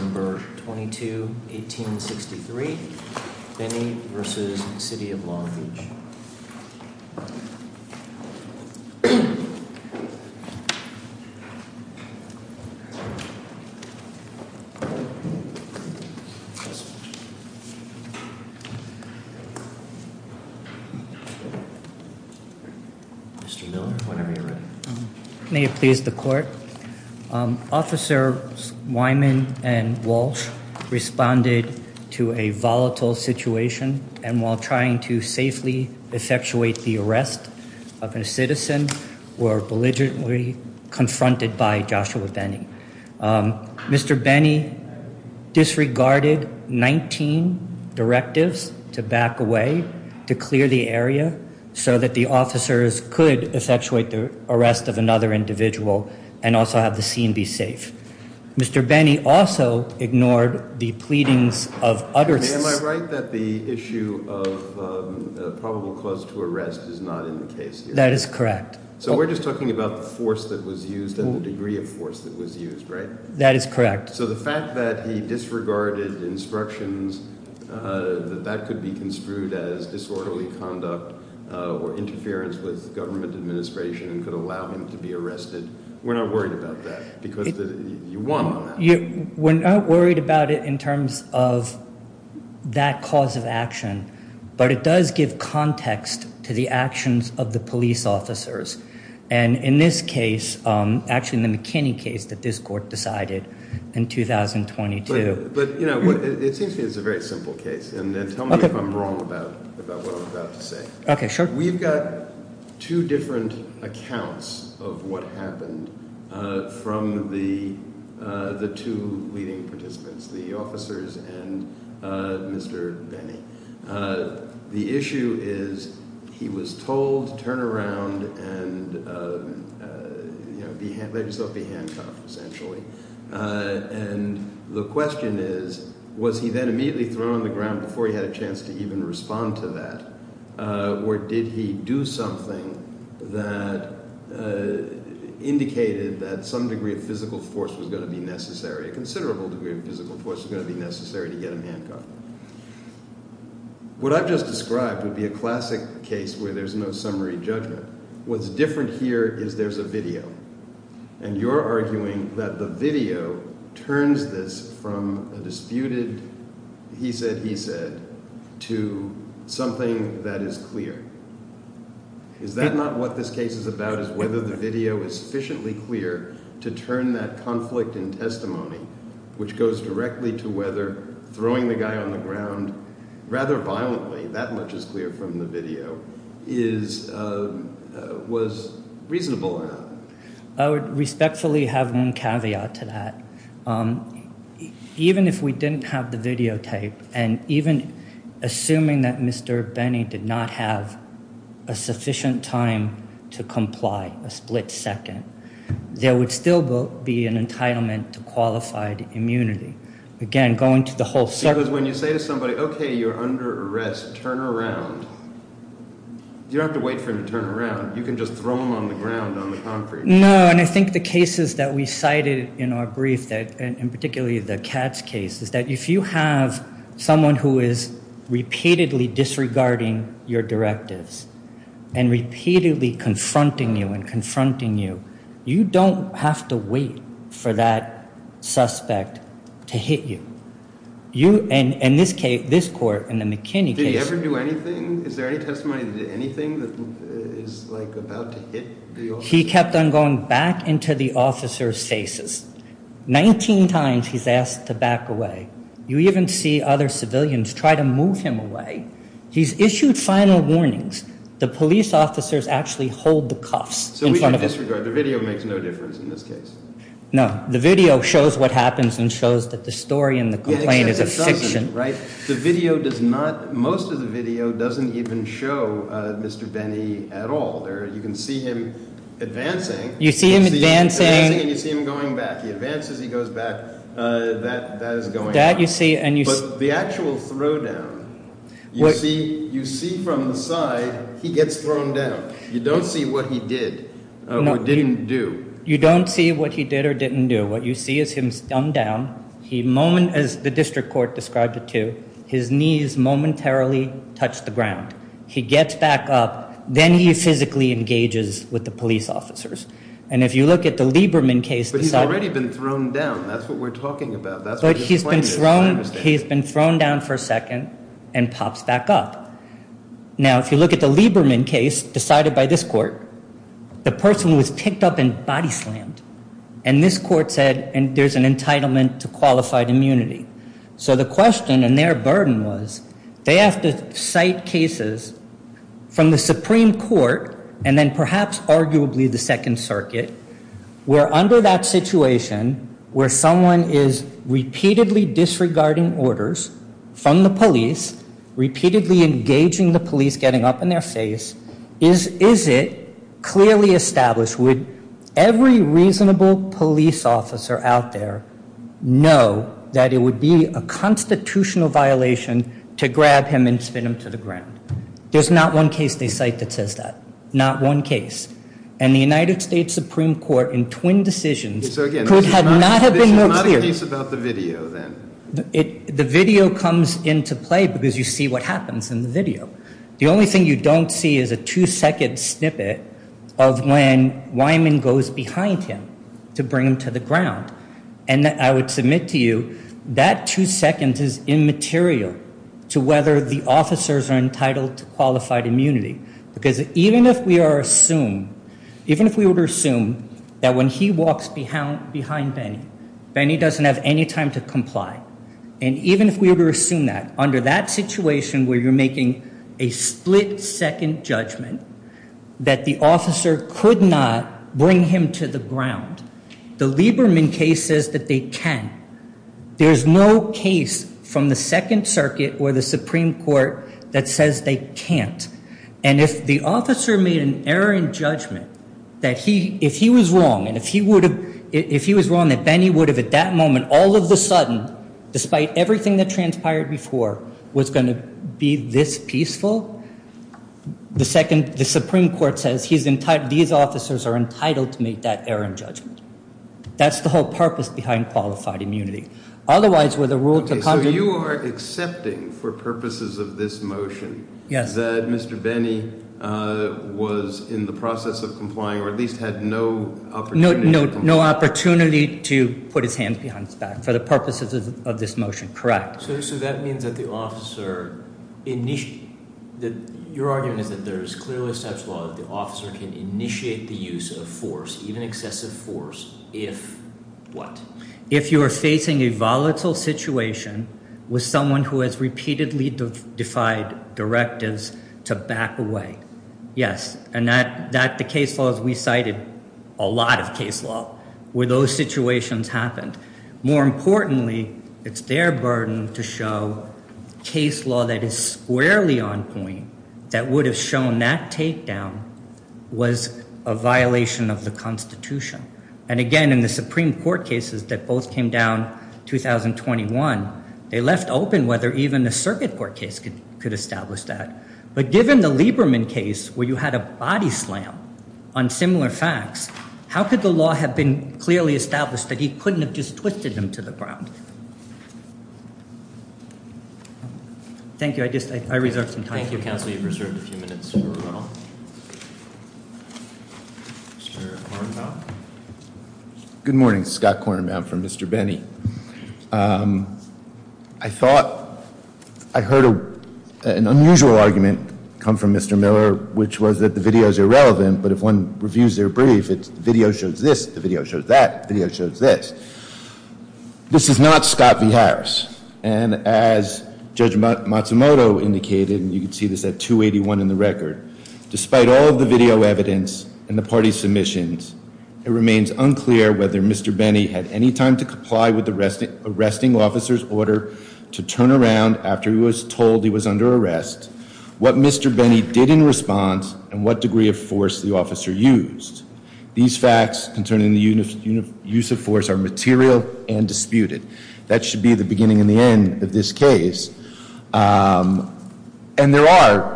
Mr. Miller, whenever you're ready May it please the court? Officer Wyman and Walsh responded to a volatile situation and while trying to safely effectuate the arrest of a citizen were belligerently confronted by Joshua Benny. Mr. Benny disregarded 19 directives to back away to clear the area so that the officers could effectuate the arrest of another individual and also have the scene be safe. Mr. Benny also ignored the pleadings of others. Am I right that the issue of probable cause to arrest is not in the case? That is correct. So we're just talking about the force that was used and the degree of force that was used, right? That is correct. So the fact that he disregarded instructions that that could be construed as disorderly conduct or interference with government administration and could allow him to be arrested, we're not worried about that because you want one, aren't you? We're not worried about it in terms of that cause of action but it does give context to the actions of the police officers and in this case actually in the McKinney case that this court decided in 2022. But you know what it seems to me it's a very simple case and then tell me if I'm wrong about what I'm about to say. We've got two different accounts of what happened from the two leading participants, the officers and Mr. Benny. The issue is he was told to turn around and let himself be handcuffed essentially and the question is was he then immediately thrown on the ground before he had a chance to even respond to that or did he do something that indicated that some degree of physical force was going to be necessary, a considerable degree of physical force was going to be necessary to get him handcuffed. What I've just described would be a classic case where there's no summary judgment. What's different here is there's a video and you're arguing that the video turns this from a disputed he said he said to something that is clear. Is that not what this case is about is whether the video is sufficiently clear to turn that conflict in testimony which goes directly to whether throwing the guy on the ground rather violently, that much is clear from the video, was reasonable or not? I would respectfully have one caveat to that. Even if we didn't have the videotape and even assuming that Mr. Benny did not have a sufficient time to comply, a split second, there would still be an entitlement to qualified immunity. Because when you say to somebody, okay, you're under arrest, turn around, you don't have to wait for him to turn around, you can just throw him on the ground on the contrary. No, and I think the cases that we cited in our brief and particularly the Katz case is that if you have someone who is repeatedly disregarding your directives and repeatedly confronting you and confronting you, you don't have to wait for that suspect to turn around. To hit you and in this case, this court in the McKinney case. Did he ever do anything? Is there any testimony that did anything that is like about to hit the officer? He kept on going back into the officer's faces. 19 times he's asked to back away. You even see other civilians try to move him away. He's issued final warnings. The police officers actually hold the cuffs in front of him. So we can disregard. The video makes no difference in this case. No, the video shows what happens and shows that the story in the complaint is a fiction, right? The video does not. Most of the video doesn't even show Mr. Benny at all there. You can see him advancing. You see him advancing and you see him going back. He advances. He goes back. That is going that you see. And you see the actual throw down. You see from the side he gets thrown down. You don't see what he did or didn't do. You don't see what he did or didn't do. What you see is him dumbed down. He moment as the district court described it to his knees momentarily touched the ground. He gets back up. Then he physically engages with the police officers. And if you look at the Lieberman case, he's already been thrown down. That's what we're talking about. But he's been thrown. He's been thrown down for a second and pops back up. Now, if you look at the Lieberman case decided by this court, the person was picked up and body slammed. And this court said there's an entitlement to qualified immunity. So the question and their burden was they have to cite cases from the Supreme Court and then perhaps arguably the Second Circuit where under that situation, where someone is repeatedly disregarding orders from the police, repeatedly engaging the police, getting up in their face. Is it clearly established? Would every reasonable police officer out there know that it would be a constitutional violation to grab him and spin him to the ground? There's not one case they cite that says that. Not one case. And the United States Supreme Court in twin decisions could not have been more clear. The video comes into play because you see what happens in the video. The only thing you don't see is a two second snippet of when Wyman goes behind him to bring him to the ground. And I would submit to you that two seconds is immaterial to whether the officers are entitled to qualified immunity. Because even if we are assumed, even if we were to assume that when he walks behind Benny, Benny doesn't have any time to comply. And even if we were to assume that under that situation where you're making a split second judgment that the officer could not bring him to the ground. The Lieberman case says that they can. There's no case from the Second Circuit or the Supreme Court that says they can't. And if the officer made an error in judgment that he if he was wrong and if he would have if he was wrong that Benny would have at that moment all of the sudden. Despite everything that transpired before was going to be this peaceful. The second the Supreme Court says he's entitled these officers are entitled to make that error in judgment. That's the whole purpose behind qualified immunity. Otherwise were the rules of conduct. So you are accepting for purposes of this motion. Yes. That Mr. Benny was in the process of complying or at least had no opportunity to comply. No opportunity to put his hands behind his back for the purposes of this motion, correct. So that means that the officer, your argument is that there is clearly such Initiate the use of force, even excessive force. If what if you are facing a volatile situation with someone who has repeatedly defied directives to back away. Yes. And that that the case laws we cited a lot of case law where those situations happened. More importantly, it's their burden to show case law that is squarely on point that would have shown that takedown was a violation of the Constitution. And again, in the Supreme Court cases that both came down 2021, they left open whether even the circuit court case could could establish that. But given the Lieberman case where you had a body slam on similar facts. How could the law have been clearly established that he couldn't have just twisted them to the ground? Thank you. I just I reserve some time. Thank you, counsel. You've reserved a few minutes. Good morning, Scott Kornbaum from Mr. Benny. I thought I heard an unusual argument come from Mr. Miller, which was that the video is irrelevant. But if one reviews their brief, it's video shows this. The video shows that video shows this. This is not Scott V. Harris. And as Judge Matsumoto indicated, you can see this at 281 in the record. Despite all of the video evidence and the party submissions, it remains unclear whether Mr. Benny had any time to comply with the arresting arresting officer's order to turn around after he was told he was under arrest. What Mr. Benny did in response and what degree of force the officer used. These facts concerning the use of force are material and disputed. That should be the beginning and the end of this case. And there are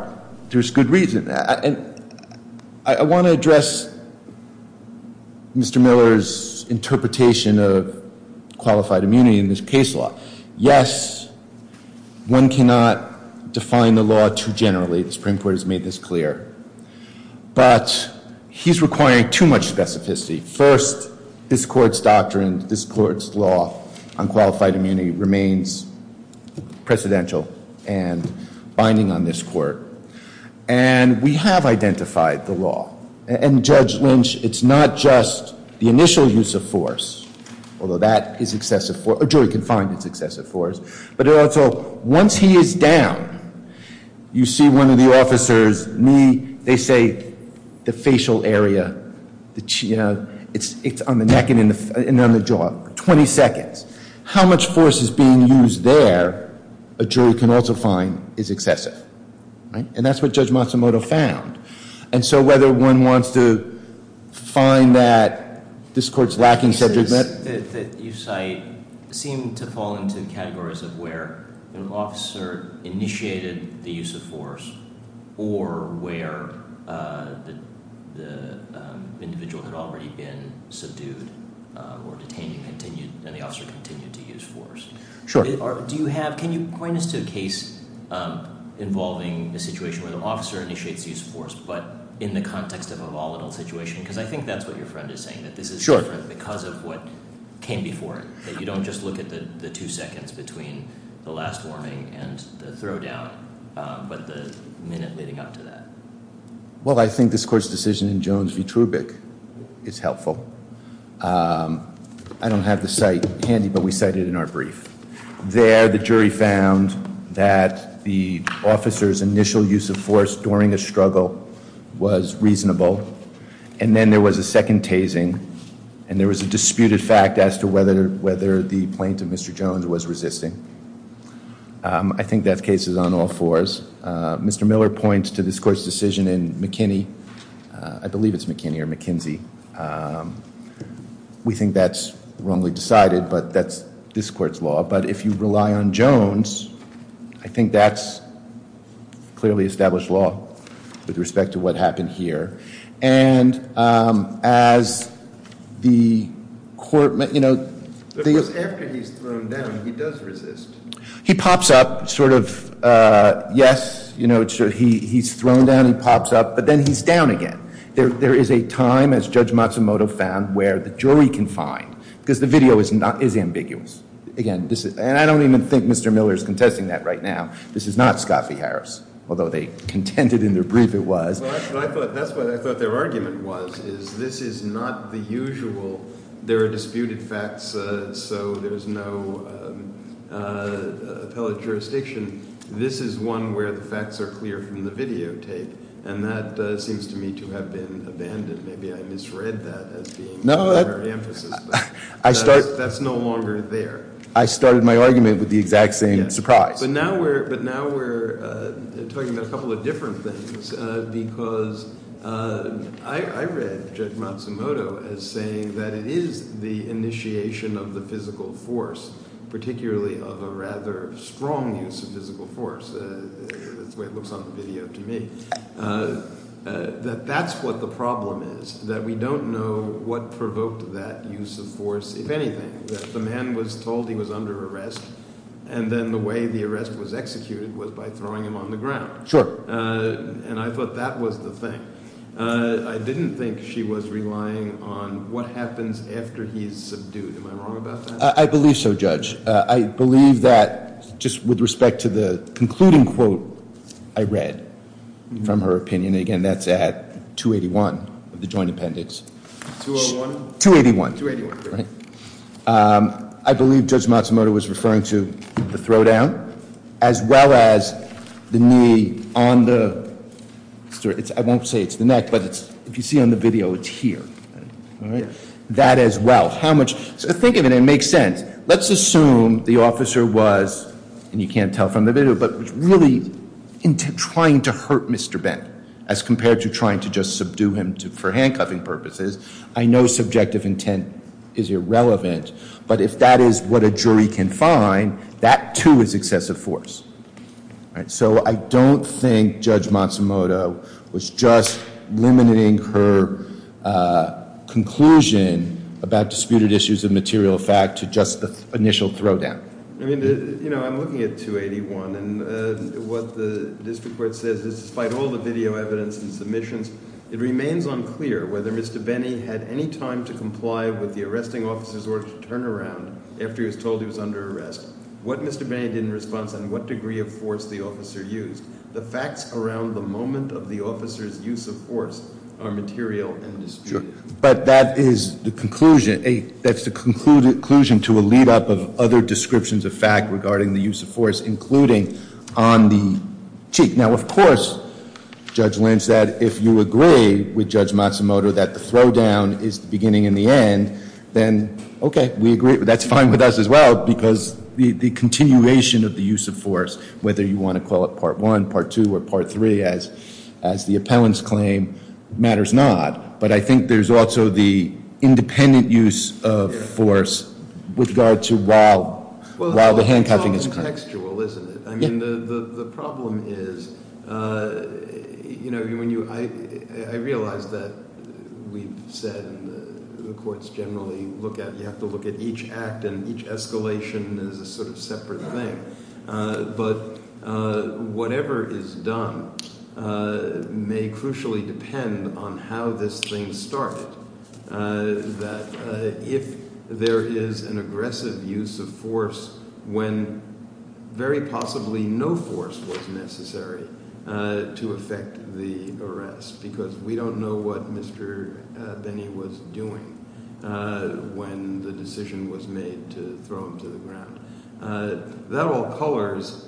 there's good reason. I want to address. Mr. Miller's interpretation of qualified immunity in this case law. Yes, one cannot define the law too generally. The Supreme Court has made this clear, but he's requiring too much specificity. First, this court's doctrine, this court's law on qualified immunity remains precedential and binding on this court. And we have identified the law. And Judge Lynch, it's not just the initial use of force, although that is excessive for a jury can find it's excessive force. But it also once he is down, you see one of the officers knee, they say the facial area, the chin, it's it's on the neck and in the jaw, 20 seconds. How much force is being used there? A jury can also find is excessive. And that's what Judge Matsumoto found. And so whether one wants to find that this court's lacking subject. You say seem to fall into categories of where an officer initiated the use of force or where the individual had already been subdued or detained and the officer continued to use force. Sure. Do you have, can you point us to a case involving the situation where the officer initiates use of force, but in the context of a volatile situation? Because I think that's what your friend is saying, that this is different because of what came before it. That you don't just look at the two seconds between the last warning and the throw down, but the minute leading up to that. Well, I think this court's decision in Jones v. Trubick is helpful. I don't have the site handy, but we cited in our brief. There, the jury found that the officer's initial use of force during a struggle was reasonable. And then there was a second tasing and there was a disputed fact as to whether whether the plaintiff, Mr. Jones, was resisting. I think that case is on all fours. Mr. Miller points to this court's decision in McKinney. I believe it's McKinney or McKinsey. We think that's wrongly decided, but that's this court's law. But if you rely on Jones, I think that's clearly established law with respect to what happened here. And as the court, you know, after he's thrown down, he does resist. He pops up sort of, yes, you know, he's thrown down and pops up, but then he's down again. There is a time, as Judge Matsumoto found, where the jury can find, because the video is ambiguous. Again, this is and I don't even think Mr. Miller is contesting that right now. This is not Scott v. Harris, although they contended in their brief it was. I thought that's what I thought their argument was, is this is not the usual. There are disputed facts, so there is no appellate jurisdiction. This is one where the facts are clear from the videotape, and that seems to me to have been abandoned. Maybe I misread that. No, I start. That's no longer there. I started my argument with the exact same surprise. But now we're talking about a couple of different things because I read Judge Matsumoto as saying that it is the initiation of the physical force, particularly of a rather strong use of physical force. That's the way it looks on the video to me. That that's what the problem is, that we don't know what provoked that use of force, if anything. The man was told he was under arrest, and then the way the arrest was executed was by throwing him on the ground. Sure. And I thought that was the thing. I didn't think she was relying on what happens after he's subdued. Am I wrong about that? I believe so, Judge. I believe that just with respect to the concluding quote I read from her opinion, again, that's at 281 of the joint appendix. 201? 281. 281. I believe Judge Matsumoto was referring to the throw down as well as the knee on the neck. I won't say it's the neck, but if you see on the video, it's here. That as well. Think of it, it makes sense. Let's assume the officer was, and you can't tell from the video, but really trying to hurt Mr. Bent as compared to trying to just subdue him for handcuffing purposes. I know subjective intent is irrelevant, but if that is what a jury can find, that, too, is excessive force. So I don't think Judge Matsumoto was just limiting her conclusion about disputed issues of material fact to just the initial throw down. I mean, you know, I'm looking at 281, and what the district court says is despite all the video evidence and submissions, it remains unclear whether Mr. Benny had any time to comply with the arresting officer's order to turn around after he was told he was under arrest. What Mr. Benny did in response, and what degree of force the officer used, the facts around the moment of the officer's use of force are material and disputed. But that is the conclusion. That's the conclusion to a lead up of other descriptions of fact regarding the use of force, including on the cheek. Now, of course, Judge Lynch said if you agree with Judge Matsumoto that the throw down is the beginning and the end, then okay, we agree, that's fine with us as well, because the continuation of the use of force, whether you want to call it part one, part two, or part three as the appellant's claim, matters not. But I think there's also the independent use of force with regard to while the handcuffing is current. It's contextual, isn't it? I mean the problem is, you know, when you – I realize that we've said the courts generally look at – you have to look at each act and each escalation as a sort of separate thing. But whatever is done may crucially depend on how this thing started, that if there is an aggressive use of force when very possibly no force was necessary to effect the arrest. Because we don't know what Mr. Benny was doing when the decision was made to throw him to the ground. That all colors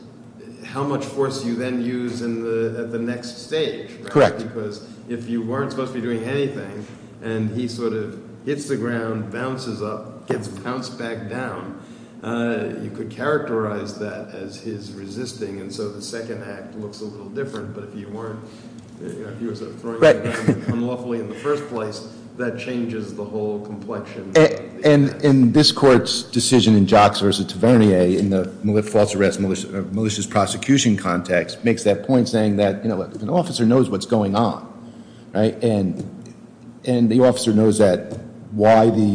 how much force you then use at the next stage. Correct. Because if you weren't supposed to be doing anything and he sort of hits the ground, bounces up, gets bounced back down, you could characterize that as his resisting. And so the second act looks a little different. But if you weren't – if you were sort of throwing him down unlawfully in the first place, that changes the whole complexion. And this court's decision in Jocks v. Tavernier in the false arrest malicious prosecution context makes that point, saying that, you know, an officer knows what's going on, right? And the officer knows that why the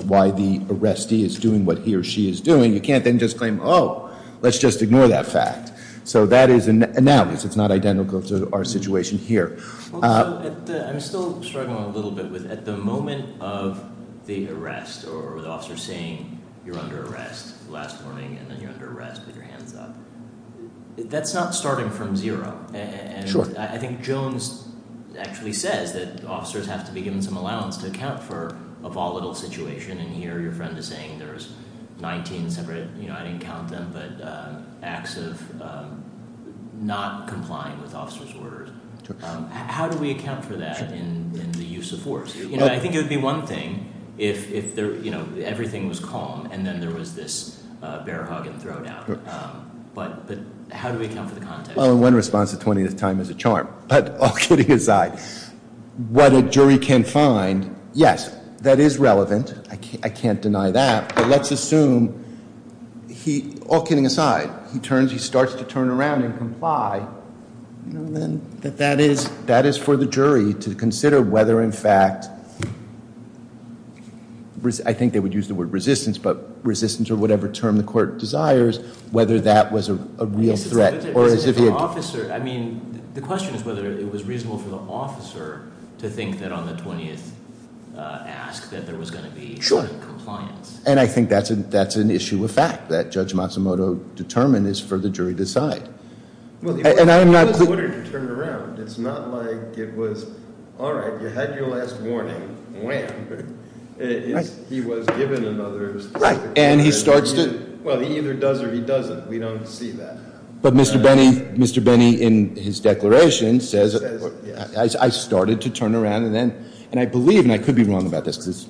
arrestee is doing what he or she is doing, you can't then just claim, oh, let's just ignore that fact. So that is an analysis. It's not identical to our situation here. I'm still struggling a little bit with – at the moment of the arrest or the officer saying you're under arrest last morning and then you're under arrest with your hands up, that's not starting from zero. Sure. I think Jones actually says that officers have to be given some allowance to account for a volatile situation. And here your friend is saying there's 19 separate – I didn't count them – but acts of not complying with officer's orders. How do we account for that in the use of force? I think it would be one thing if everything was calm and then there was this bear hug and throwdown. But how do we account for the context? Well, in one response, the 20th time is a charm. But all kidding aside, what a jury can find, yes, that is relevant. I can't deny that. But let's assume he – all kidding aside, he turns – he starts to turn around and comply. That that is – That is for the jury to consider whether in fact – I think they would use the word resistance, but resistance or whatever term the court desires, whether that was a real threat. I mean, the question is whether it was reasonable for the officer to think that on the 20th ask that there was going to be compliance. Sure. And I think that's an issue of fact that Judge Matsumoto determined is for the jury to decide. And I'm not – Well, he was ordered to turn around. It's not like it was, all right, you had your last warning. Wham. He was given another – Right. And he starts to – But Mr. Benny, Mr. Benny in his declaration says, I started to turn around and then – and I believe, and I could be wrong about this because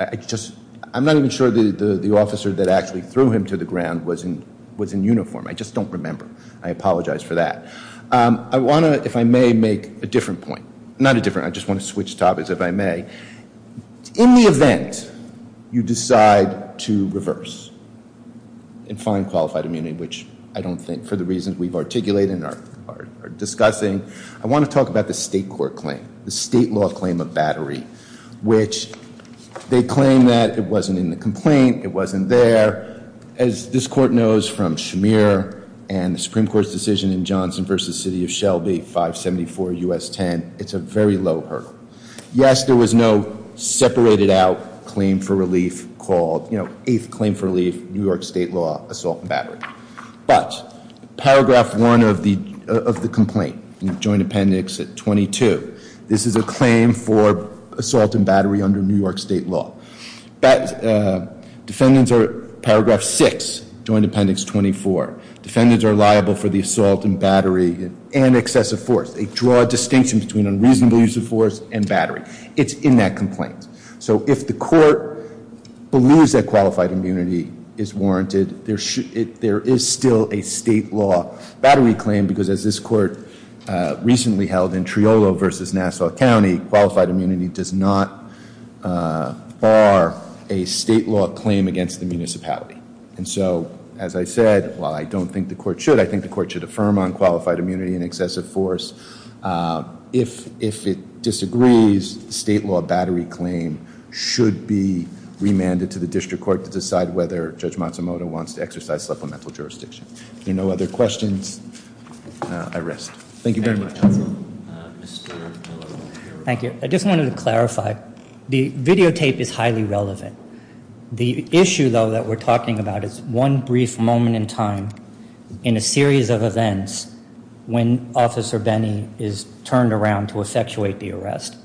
I just – I'm not even sure that the officer that actually threw him to the ground was in uniform. I just don't remember. I apologize for that. I want to, if I may, make a different point. Not a different – I just want to switch topics, if I may. In the event you decide to reverse and find qualified immunity, which I don't think for the reasons we've articulated and are discussing, I want to talk about the state court claim, the state law claim of battery, which they claim that it wasn't in the complaint, it wasn't there. As this court knows from Shamir and the Supreme Court's decision in Johnson v. City of Shelby, 574 U.S. 10, it's a very low hurdle. Yes, there was no separated out claim for relief called – you know, eighth claim for relief, New York State law, assault and battery. But paragraph one of the complaint, Joint Appendix 22, this is a claim for assault and battery under New York State law. But defendants are – paragraph six, Joint Appendix 24, defendants are liable for the assault and battery and excessive force. They draw a distinction between unreasonable use of force and battery. It's in that complaint. So if the court believes that qualified immunity is warranted, there is still a state law battery claim because as this court recently held in Triolo v. Nassau County, qualified immunity does not bar a state law claim against the municipality. And so, as I said, while I don't think the court should, I think the court should affirm on qualified immunity and excessive force. If it disagrees, state law battery claim should be remanded to the district court to decide whether Judge Matsumoto wants to exercise supplemental jurisdiction. If there are no other questions, I rest. Thank you very much. Thank you. I just wanted to clarify. The videotape is highly relevant. The issue, though, that we're talking about is one brief moment in time in a series of events when Officer Benny is turned around to effectuate the arrest.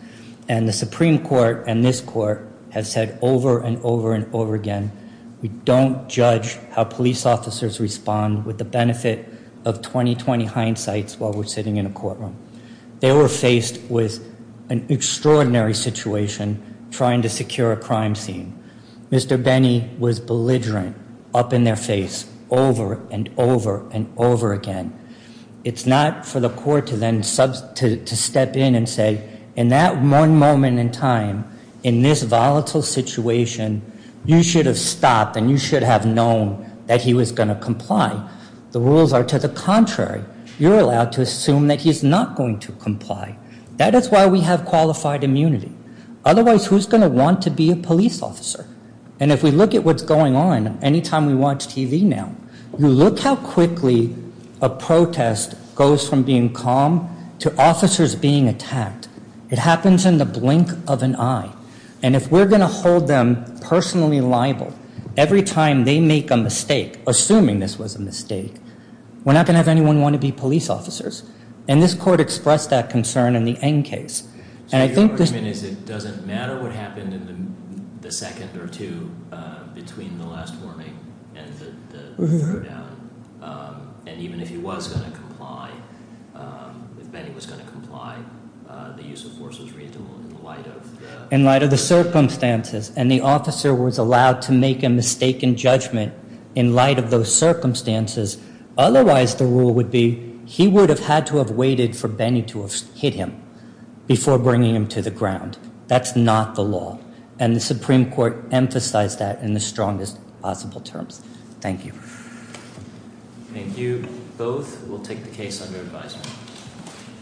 And the Supreme Court and this court have said over and over and over again, we don't judge how police officers respond with the benefit of 20-20 hindsights while we're sitting in a courtroom. They were faced with an extraordinary situation trying to secure a crime scene. Mr. Benny was belligerent up in their face over and over and over again. It's not for the court to then step in and say, in that one moment in time, in this volatile situation, you should have stopped and you should have known that he was going to comply. The rules are to the contrary. You're allowed to assume that he's not going to comply. That is why we have qualified immunity. Otherwise, who's going to want to be a police officer? And if we look at what's going on any time we watch TV now, you look how quickly a protest goes from being calm to officers being attacked. It happens in the blink of an eye. And if we're going to hold them personally liable every time they make a mistake, assuming this was a mistake, we're not going to have anyone want to be police officers. And this court expressed that concern in the Eng case. And I think the argument is it doesn't matter what happened in the second or two between the last warning and the throwdown. And even if he was going to comply, if Benny was going to comply, the use of force was reasonable in light of the circumstances. And the officer was allowed to make a mistaken judgment in light of those circumstances. Otherwise, the rule would be he would have had to have waited for Benny to hit him before bringing him to the ground. That's not the law. And the Supreme Court emphasized that in the strongest possible terms. Thank you. Thank you both. We'll take the case under advisement.